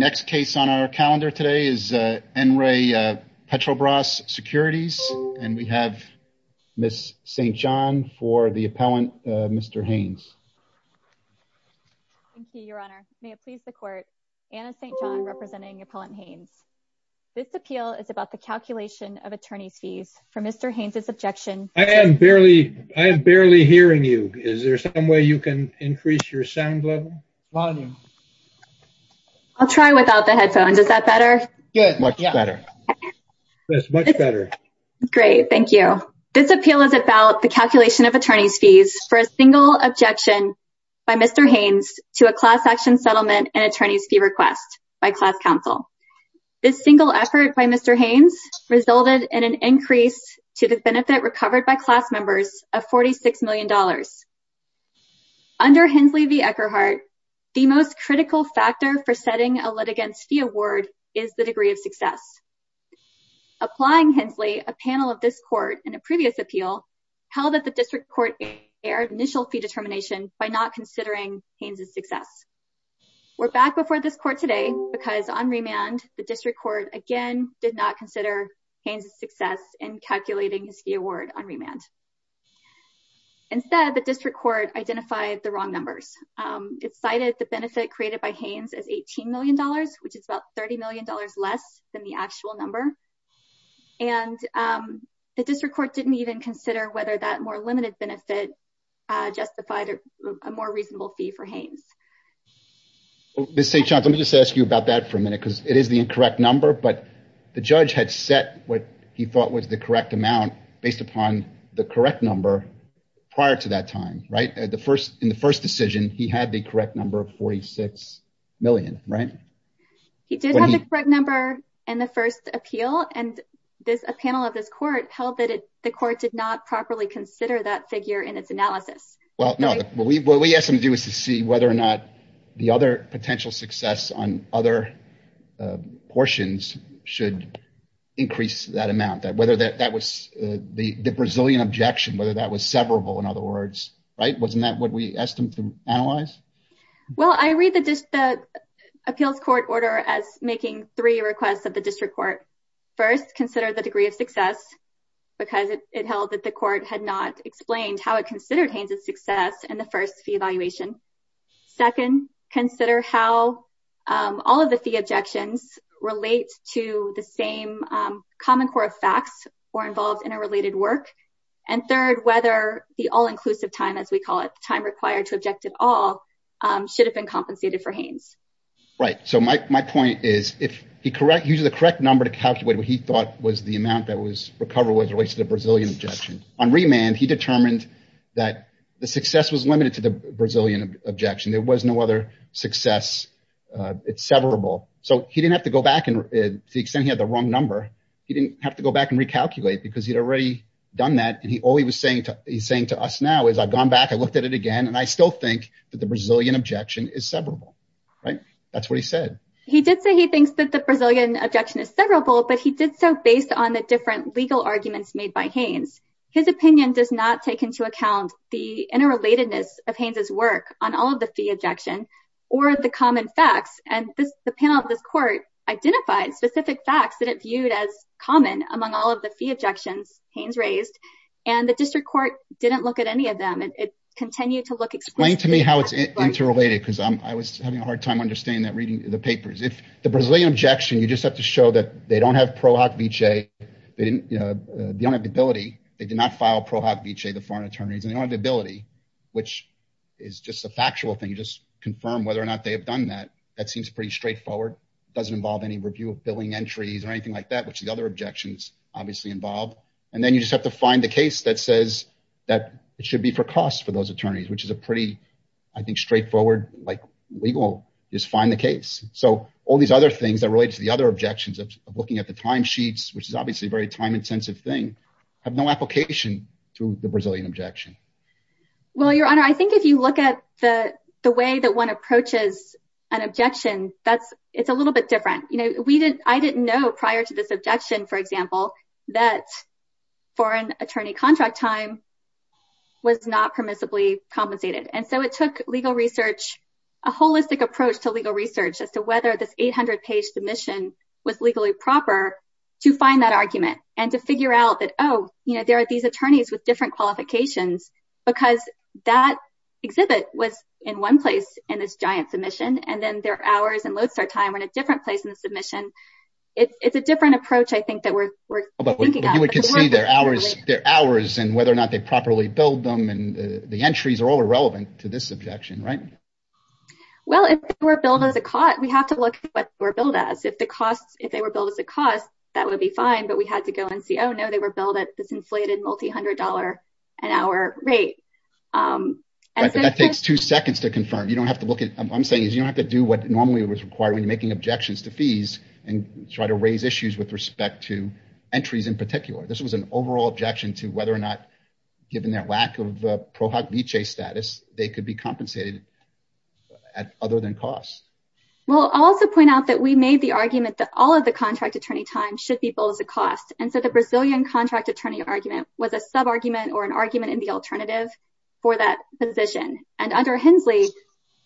The next case on our calendar today is N. Ray Petrobras Securities, and we have Ms. St. John for the appellant, Mr. Haynes. Thank you, Your Honor. May it please the Court, Anna St. John representing Appellant Haynes. This appeal is about the calculation of attorney's fees. From Mr. Haynes's objection- I am barely hearing you. Is there some way you can increase your sound level? I'll try without the headphones. Is that better? Good. Much better. Much better. Great. Thank you. This appeal is about the calculation of attorney's fees for a single objection by Mr. Haynes to a class action settlement and attorney's fee request by class counsel. This single effort by Mr. Haynes resulted in an increase to the benefit recovered by class members of $46 million. Under Hensley v. Eckerhart, the most critical factor for setting a litigant's fee award is the degree of success. Applying Hensley, a panel of this Court in a previous appeal held that the District Court erred initial fee determination by not considering Haynes's success. We're back before this Court today because on remand, the District Court again did not consider Haynes's success in calculating his fee award on remand. Instead, the District Court identified the wrong numbers. It cited the benefit created by Haynes as $18 million, which is about $30 million less than the actual number, and the District Court didn't even consider whether that more limited benefit justified a more reasonable fee for Haynes. Ms. St. John, let me just ask you about that for a minute because it is the incorrect number, but the judge had set what he thought was the correct amount based upon the correct number prior to that time, right? In the first decision, he had the correct number of $46 million, right? He did have the correct number in the first appeal, and a panel of this Court held that the Court did not properly consider that figure in its analysis. Well, no. What we asked him to do was to see whether or not the other potential success on other portions should increase that amount, whether that was the Brazilian objection, whether that was severable, in other words, right? Wasn't that what we asked him to analyze? Well, I read the Appeals Court order as making three requests of the District Court. First, consider the degree of success because it held that the Court had not explained how it considered Haynes' success in the first fee evaluation. Second, consider how all of the fee objections relate to the same common core of facts or involved in a related work. And third, whether the all-inclusive time, as we call it, the time required to object at all, should have been compensated for Haynes. Right. So, my point is, he used the correct number to calculate what he thought was the amount that was recoverable as it relates to the Brazilian objection. On remand, he determined that the success was limited to the Brazilian objection. There was no other success. It's severable. So, he didn't have to go back and, to the extent he had the wrong number, he didn't have to go back and recalculate because he'd already done that and all he was saying to us now is, I've gone back, I looked at it again, and I still think that the Brazilian objection is severable, right? That's what he said. He did say he thinks that the Brazilian objection is severable, but he did so based on the different legal arguments made by Haynes. His opinion does not take into account the interrelatedness of Haynes' work on all of the fee objection or the common facts. And the panel of this court identified specific facts that it viewed as common among all of the fee objections Haynes raised, and the district court didn't look at any of them. It continued to look explicitly- Explain to me how it's interrelated, because I was having a hard time understanding that reading the papers. The Brazilian objection, you just have to show that they don't have pro hoc vice, they don't have the ability, they did not file pro hoc vice, the foreign attorneys, and they don't have the ability, which is just a factual thing, you just confirm whether or not they have done that. That seems pretty straightforward. It doesn't involve any review of billing entries or anything like that, which the other objections obviously involve. And then you just have to find the case that says that it should be for costs for those attorneys, which is a pretty, I think, straightforward, like, legal, just find the case. So all these other things that relate to the other objections of looking at the timesheets, which is obviously a very time intensive thing, have no application to the Brazilian objection. Well, Your Honor, I think if you look at the the way that one approaches an objection, that's it's a little bit different. You know, we didn't I didn't know prior to this objection, for example, that foreign attorney contract time was not permissibly compensated. And so it took legal research, a holistic approach to legal research as to whether this 800 page submission was legally proper to find that argument and to figure out that, oh, you know, there are these attorneys with different qualifications because that exhibit was in one place in this giant submission. And then their hours and load start time were in a different place in the submission. It's a different approach, I think, that we're thinking about. You can see their hours, their hours and whether or not they properly billed them and the to this objection. Right. Well, if we're billed as a cot, we have to look at what we're billed as, if the costs, if they were billed as a cost, that would be fine. But we had to go and see, oh, no, they were billed at this inflated multi hundred dollar an hour rate. That takes two seconds to confirm. You don't have to look at I'm saying is you don't have to do what normally was required when making objections to fees and try to raise issues with respect to entries in particular. This was an overall objection to whether or not, given their lack of pro they could be compensated at other than costs. Well, I'll also point out that we made the argument that all of the contract attorney time should be billed as a cost. And so the Brazilian contract attorney argument was a sub argument or an argument in the alternative for that position. And under Hensley,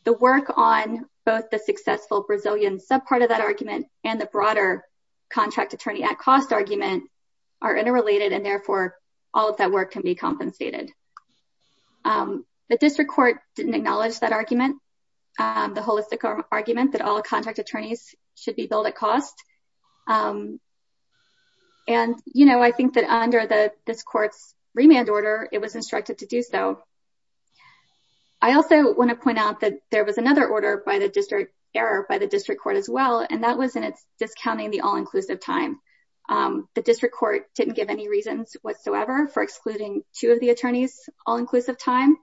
the work on both the successful Brazilian sub part of that argument and the broader contract attorney at cost argument are interrelated and therefore all of that work can be compensated. The district court didn't acknowledge that argument, the holistic argument that all contract attorneys should be billed at cost. And, you know, I think that under the this court's remand order, it was instructed to do so. I also want to point out that there was another order by the district error by the district court as well, and that was in its discounting the all inclusive time. The district court didn't give any reasons whatsoever for excluding two of the attorneys, all inclusive time,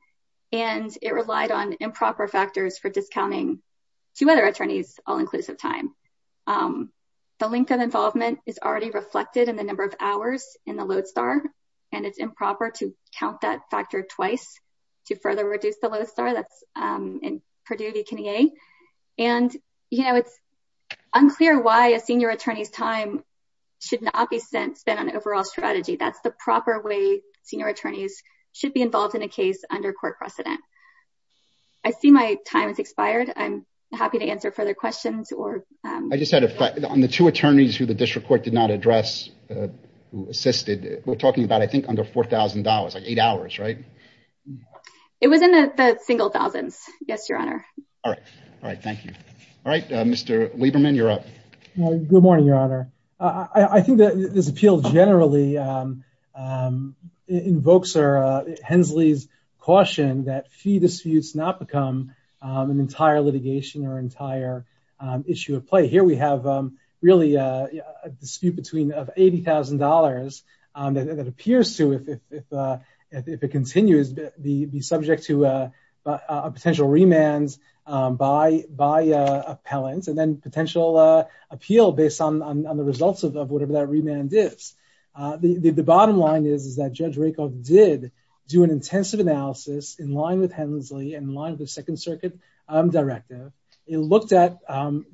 and it relied on improper factors for discounting two other attorneys, all inclusive time. The length of involvement is already reflected in the number of hours in the Lodestar and it's improper to count that factor twice to further reduce the Lodestar that's in Purdue. And, you know, it's unclear why a senior attorney's time should not be spent on overall strategy. That's the proper way senior attorneys should be involved in a case under court precedent. I see my time has expired. I'm happy to answer further questions or I just had a fight on the two attorneys who the district court did not address who assisted. We're talking about, I think, under four thousand dollars, eight hours, right? It was in the single thousands. Yes, your honor. All right. All right. Thank you. All right, Mr. Lieberman, you're up. Good morning, your honor. I think that this appeal generally invokes Hensley's caution that fee disputes not become an entire litigation or entire issue of play. Here we have really a dispute between eighty thousand dollars that appears to, if it continues, be subject to a potential remand by by appellant and then potential appeal based on the results of whatever that remand is. The bottom line is, is that Judge Rakoff did do an intensive analysis in line with Hensley, in line with the Second Circuit directive. It looked at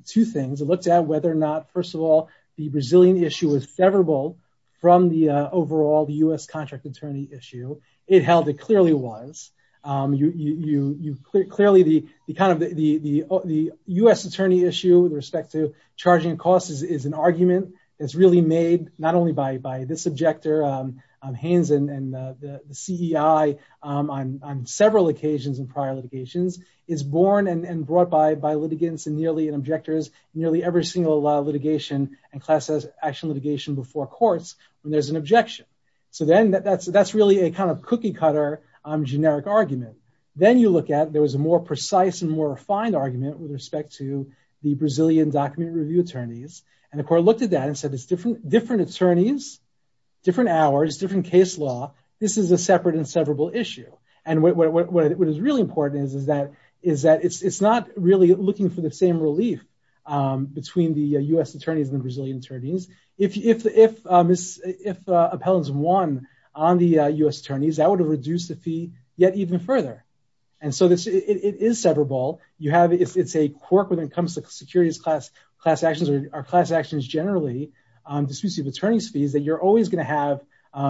two things. It looked at whether or not, first of all, the Brazilian issue was favorable from the overall U.S. contract attorney issue. It held it clearly was. You clearly the kind of the U.S. attorney issue with respect to charging costs is an argument that's really made not only by this objector, Haynes and the CEI on several occasions in prior litigations, is born and brought by by litigants and nearly in objectors, nearly every single litigation and class action litigation before courts when there's an objection. So then that's that's really a kind of cookie cutter generic argument. Then you look at there was a more precise and more refined argument with respect to the Brazilian document review attorneys. And the court looked at that and said it's different, different attorneys, different hours, different case law. This is a separate and severable issue. And what is really important is, is that is that it's not really looking for the same relief between the U.S. attorneys and the Brazilian attorneys. If if if if appellants won on the U.S. attorneys, that would have reduced the fee yet even further. And so it is severable. You have it's a quirk when it comes to securities class class actions or class actions generally, disputes of attorney's fees that you're always going to have.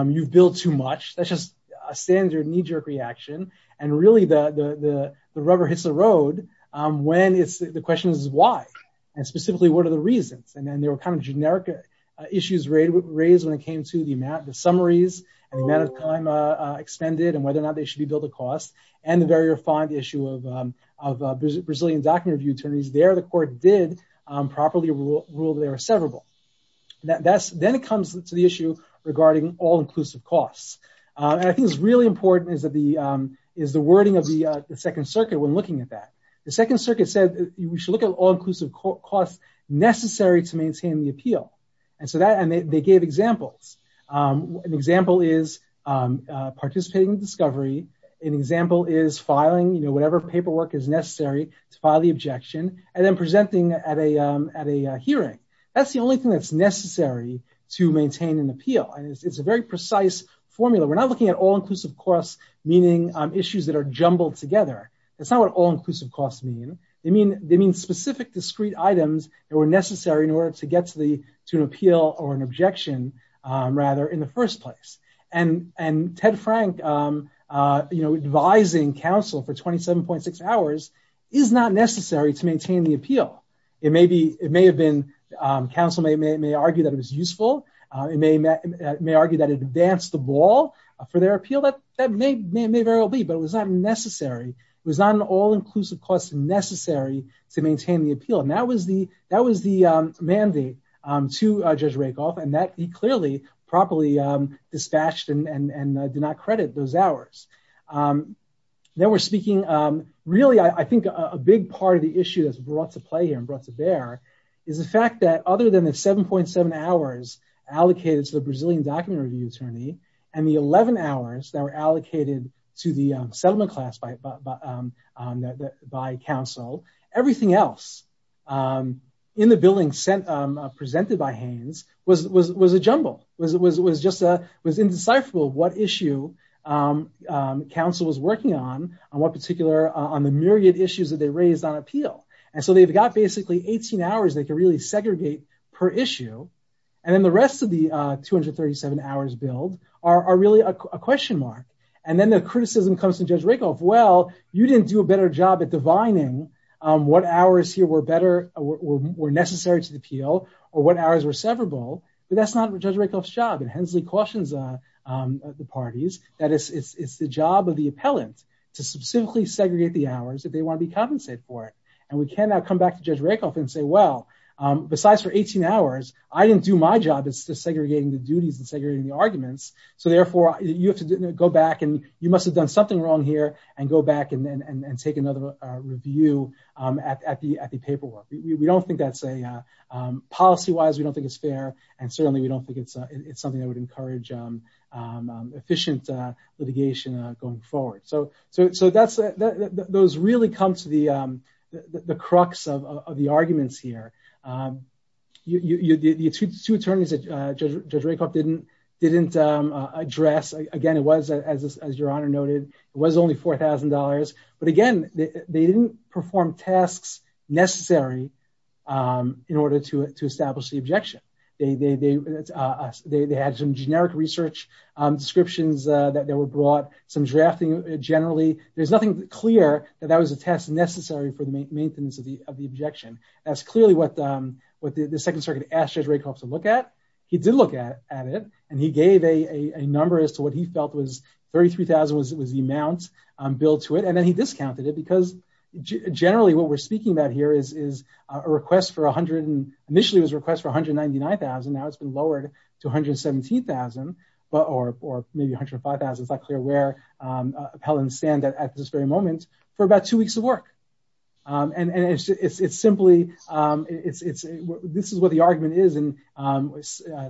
You've built too much. That's just a standard knee jerk reaction. And really the the rubber hits the road when it's the question is why and specifically what are the reasons? And then there were kind of generic issues raised when it came to the amount, the summaries and the amount of time expended and whether or not they should be billed a cost. And the very refined issue of of Brazilian document review attorneys. There, the court did properly rule that there are several that's then it comes to the issue regarding all inclusive costs. And I think it's really important is that the is the wording of the Second Circuit when looking at that. The Second Circuit said we should look at all inclusive costs necessary to maintain the appeal. And so that they gave examples. An example is participating in discovery. An example is filing whatever paperwork is necessary to file the objection and then presenting at a at a hearing. That's the only thing that's necessary to maintain an appeal. And it's a very precise formula. We're not looking at all inclusive costs, meaning issues that are jumbled together. That's not what all inclusive costs mean. I mean, they mean specific discrete items that were necessary in order to get to the to an appeal or an objection, rather, in the first place. And and Ted Frank, you know, advising counsel for twenty seven point six hours is not necessary to maintain the appeal. It may be it may have been counsel may may argue that it was useful. It may may argue that it advanced the ball for their appeal. That that may may very well be. But it was not necessary. It was not an all inclusive cost necessary to maintain the appeal. And that was the that was the mandate to Judge Rakoff and that he clearly properly dispatched and did not credit those hours. Then we're speaking really, I think, a big part of the issue that's brought to play and brought to bear is the fact that other than the seven point seven hours allocated to the Brazilian document review attorney and the 11 hours that were allocated to the settlement class by that by counsel, everything else in the billing sent presented by Haines was it was it was a jumble was it was it was just a was indecipherable what issue counsel was working on and what particular on the myriad issues that they raised on appeal. And so they've got basically 18 hours. They can really segregate per issue. And then the rest of the two hundred thirty seven hours billed are really a question mark. And then the criticism comes to Judge Rakoff, well, you didn't do a better job at divining what hours here were better or were necessary to the appeal or what hours were severable. But that's not Judge Rakoff's job. And Hensley cautions the parties that it's the job of the appellant to specifically segregate the hours that they want to be compensated for. And we cannot come back to Judge Rakoff and say, well, besides for 18 hours, I didn't do So therefore, you have to go back and you must have done something wrong here and go back and take another review at the at the paperwork. We don't think that's a policy wise. We don't think it's fair. And certainly we don't think it's something that would encourage efficient litigation going forward. So so so that's those really come to the the crux of the arguments here. You the two attorneys that Judge Rakoff didn't didn't address again, it was, as your honor noted, it was only four thousand dollars. But again, they didn't perform tasks necessary in order to to establish the objection. They they they had some generic research descriptions that they were brought, some drafting generally. There's nothing clear that that was a test necessary for the maintenance of the of the what the Second Circuit asked Judge Rakoff to look at. He did look at at it and he gave a number as to what he felt was thirty three thousand was it was the amount billed to it. And then he discounted it because generally what we're speaking about here is is a request for one hundred and initially was request for one hundred ninety nine thousand. Now it's been lowered to one hundred seventeen thousand or maybe one hundred five thousand. It's not clear where appellants stand at this very moment for about two weeks of work. And it's simply it's this is what the argument is in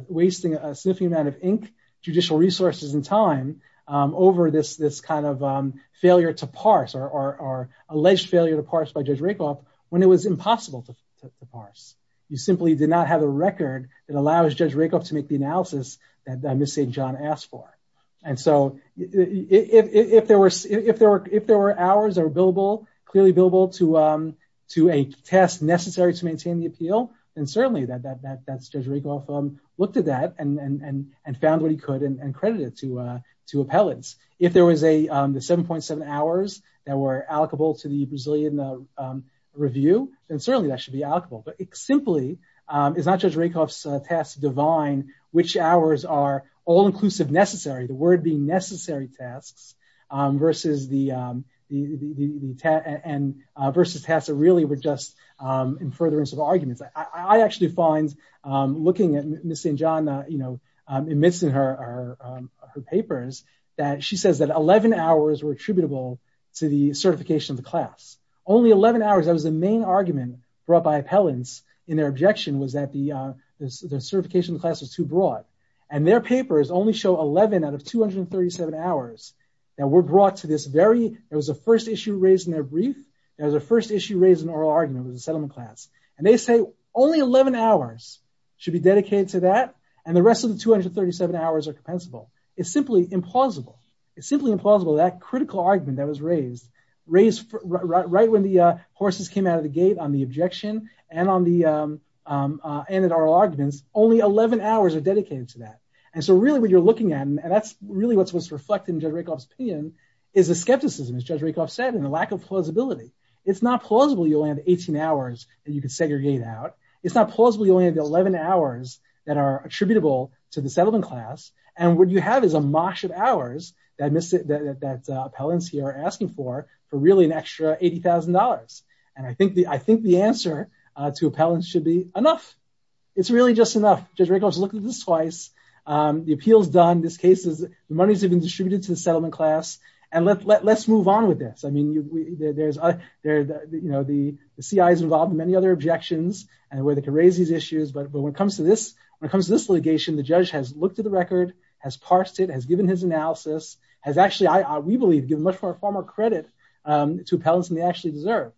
wasting a sniffing amount of ink, judicial resources and time over this this kind of failure to parse or alleged failure to parse by Judge Rakoff when it was impossible to parse. You simply did not have a record that allows Judge Rakoff to make the analysis that Miss St. John asked for. And so if there were if there were if there were hours or billable, clearly billable to to a test necessary to maintain the appeal, then certainly that that that Judge Rakoff looked at that and found what he could and credited to to appellants. If there was a seven point seven hours that were allocable to the Brazilian review, then certainly that should be allocable. But it simply is not Judge Rakoff's task to divine which hours are all inclusive, necessary, the word being necessary tasks versus the the and versus tasks that really were just in furtherance of arguments. I actually find looking at Miss St. John, you know, admits in her papers that she says that eleven hours were attributable to the certification of the class. Only eleven hours. That was the main argument brought by appellants in their objection was that the certification class was too broad. And their papers only show eleven out of two hundred and thirty seven hours that were brought to this very it was the first issue raised in their brief. It was the first issue raised in oral argument with the settlement class. And they say only eleven hours should be dedicated to that. And the rest of the two hundred thirty seven hours are compensable. It's simply implausible. It's simply implausible. That critical argument that was raised, raised right when the horses came out of the gate on the objection and on the end of oral arguments, only eleven hours are dedicated to that. And so really what you're looking at, and that's really what's what's reflected in Judge Rakoff's opinion, is the skepticism, as Judge Rakoff said, and the lack of plausibility. It's not plausible you only have eighteen hours that you can segregate out. It's not plausible you only have eleven hours that are attributable to the settlement class. And what you have is a mosh of hours that appellants here are asking for, for really an extra eighty thousand dollars. And I think the I think the answer to appellants should be enough. It's really just enough. Judge Rakoff has looked at this twice. The appeal is done. This case is the monies have been distributed to the settlement class. And let's move on with this. I mean, there's you know, the CIA is involved in many other objections and where they can raise these issues. But when it comes to this, when it comes to this litigation, the judge has looked at the record, has parsed it, has given his analysis, has actually, we believe, given much more credit to appellants than they actually deserve.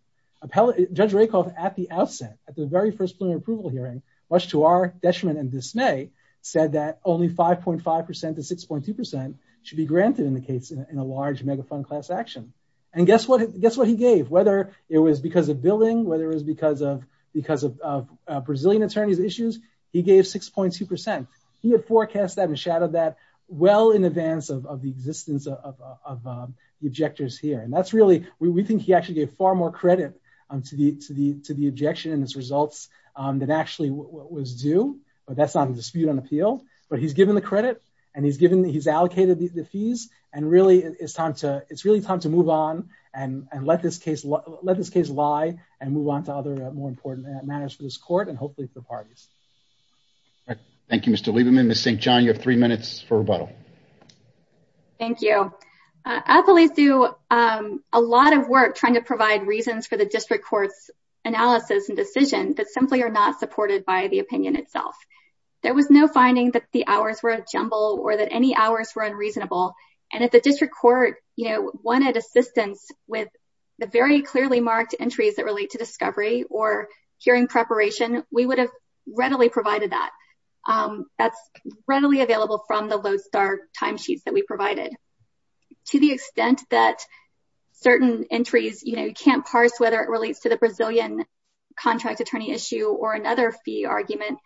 Judge Rakoff, at the outset, at the very first plenary approval hearing, much to our detriment and dismay, said that only five point five percent to six point two percent should be granted in the case in a large mega fund class action. And guess what? Guess what he gave? Whether it was because of billing, whether it was because of because of Brazilian attorneys issues, he gave six point two percent. He had forecast that and shadowed that well in advance of the existence of the objectors here. And that's really we think he actually gave far more credit to the to the to the objection and its results than actually was due. But that's not a dispute on appeal. But he's given the credit and he's given he's allocated the fees. And really, it's time to it's really time to move on and let this case let this case lie and move on to other more important matters for this court and hopefully for parties. Thank you, Mr. Lieberman. Miss St. John, you have three minutes for rebuttal. Thank you. Appellees do a lot of work trying to provide reasons for the district court's analysis and decision that simply are not supported by the opinion itself. There was no finding that the hours were a jumble or that any hours were unreasonable. And if the district court wanted assistance with the very clearly marked entries that relate to discovery or hearing preparation, we would have readily provided that that's readily available from the Lodestar timesheets that we provided to the extent that certain entries you can't parse, whether it relates to the Brazilian contract attorney issue or another fee argument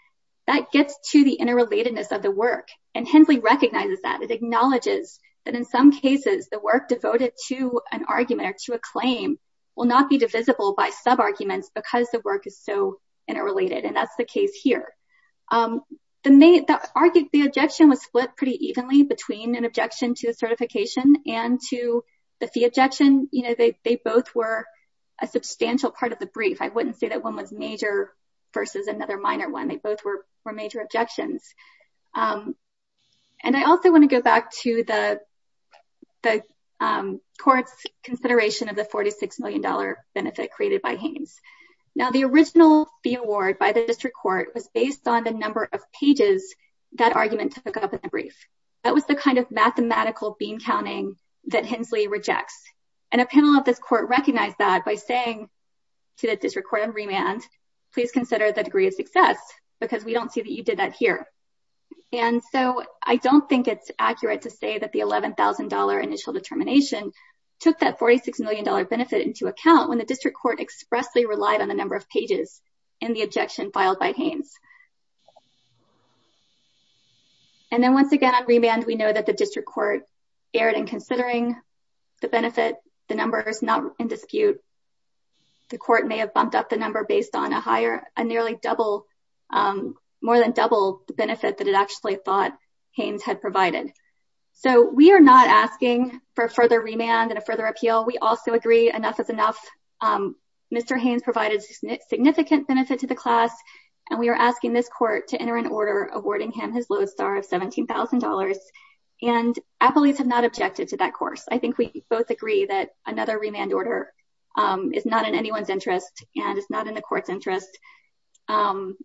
that gets to the interrelatedness of the work. And Hensley recognizes that it acknowledges that in some cases the work devoted to an interrelated sub-arguments because the work is so interrelated. And that's the case here. The main argument, the objection was split pretty evenly between an objection to the certification and to the fee objection. You know, they both were a substantial part of the brief. I wouldn't say that one was major versus another minor one. They both were major objections. And I also want to go back to the the court's consideration of the forty six million benefit created by Haynes. Now, the original fee award by the district court was based on the number of pages that argument took up in the brief. That was the kind of mathematical bean counting that Hensley rejects. And a panel of this court recognized that by saying to the district court on remand, please consider the degree of success because we don't see that you did that here. And so I don't think it's accurate to say that the eleven thousand dollar initial determination took that forty six million dollar benefit into account when the district court expressly relied on the number of pages in the objection filed by Haynes. And then once again, on remand, we know that the district court erred in considering the benefit. The number is not in dispute. The court may have bumped up the number based on a higher, a nearly double, more than double the benefit that it actually thought Haynes had provided. So we are not asking for further remand and a further appeal. We also agree enough is enough. Mr. Haynes provided significant benefit to the class and we are asking this court to enter an order awarding him his lowest star of seventeen thousand dollars. And appellees have not objected to that course. I think we both agree that another remand order is not in anyone's interest and it's not in the court's interest. And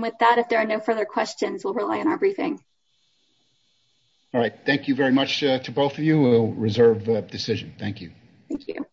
with that, if there are no further questions, we'll rely on our briefing. All right. Thank you very much to both of you. We'll reserve the decision. Thank you. Thank you.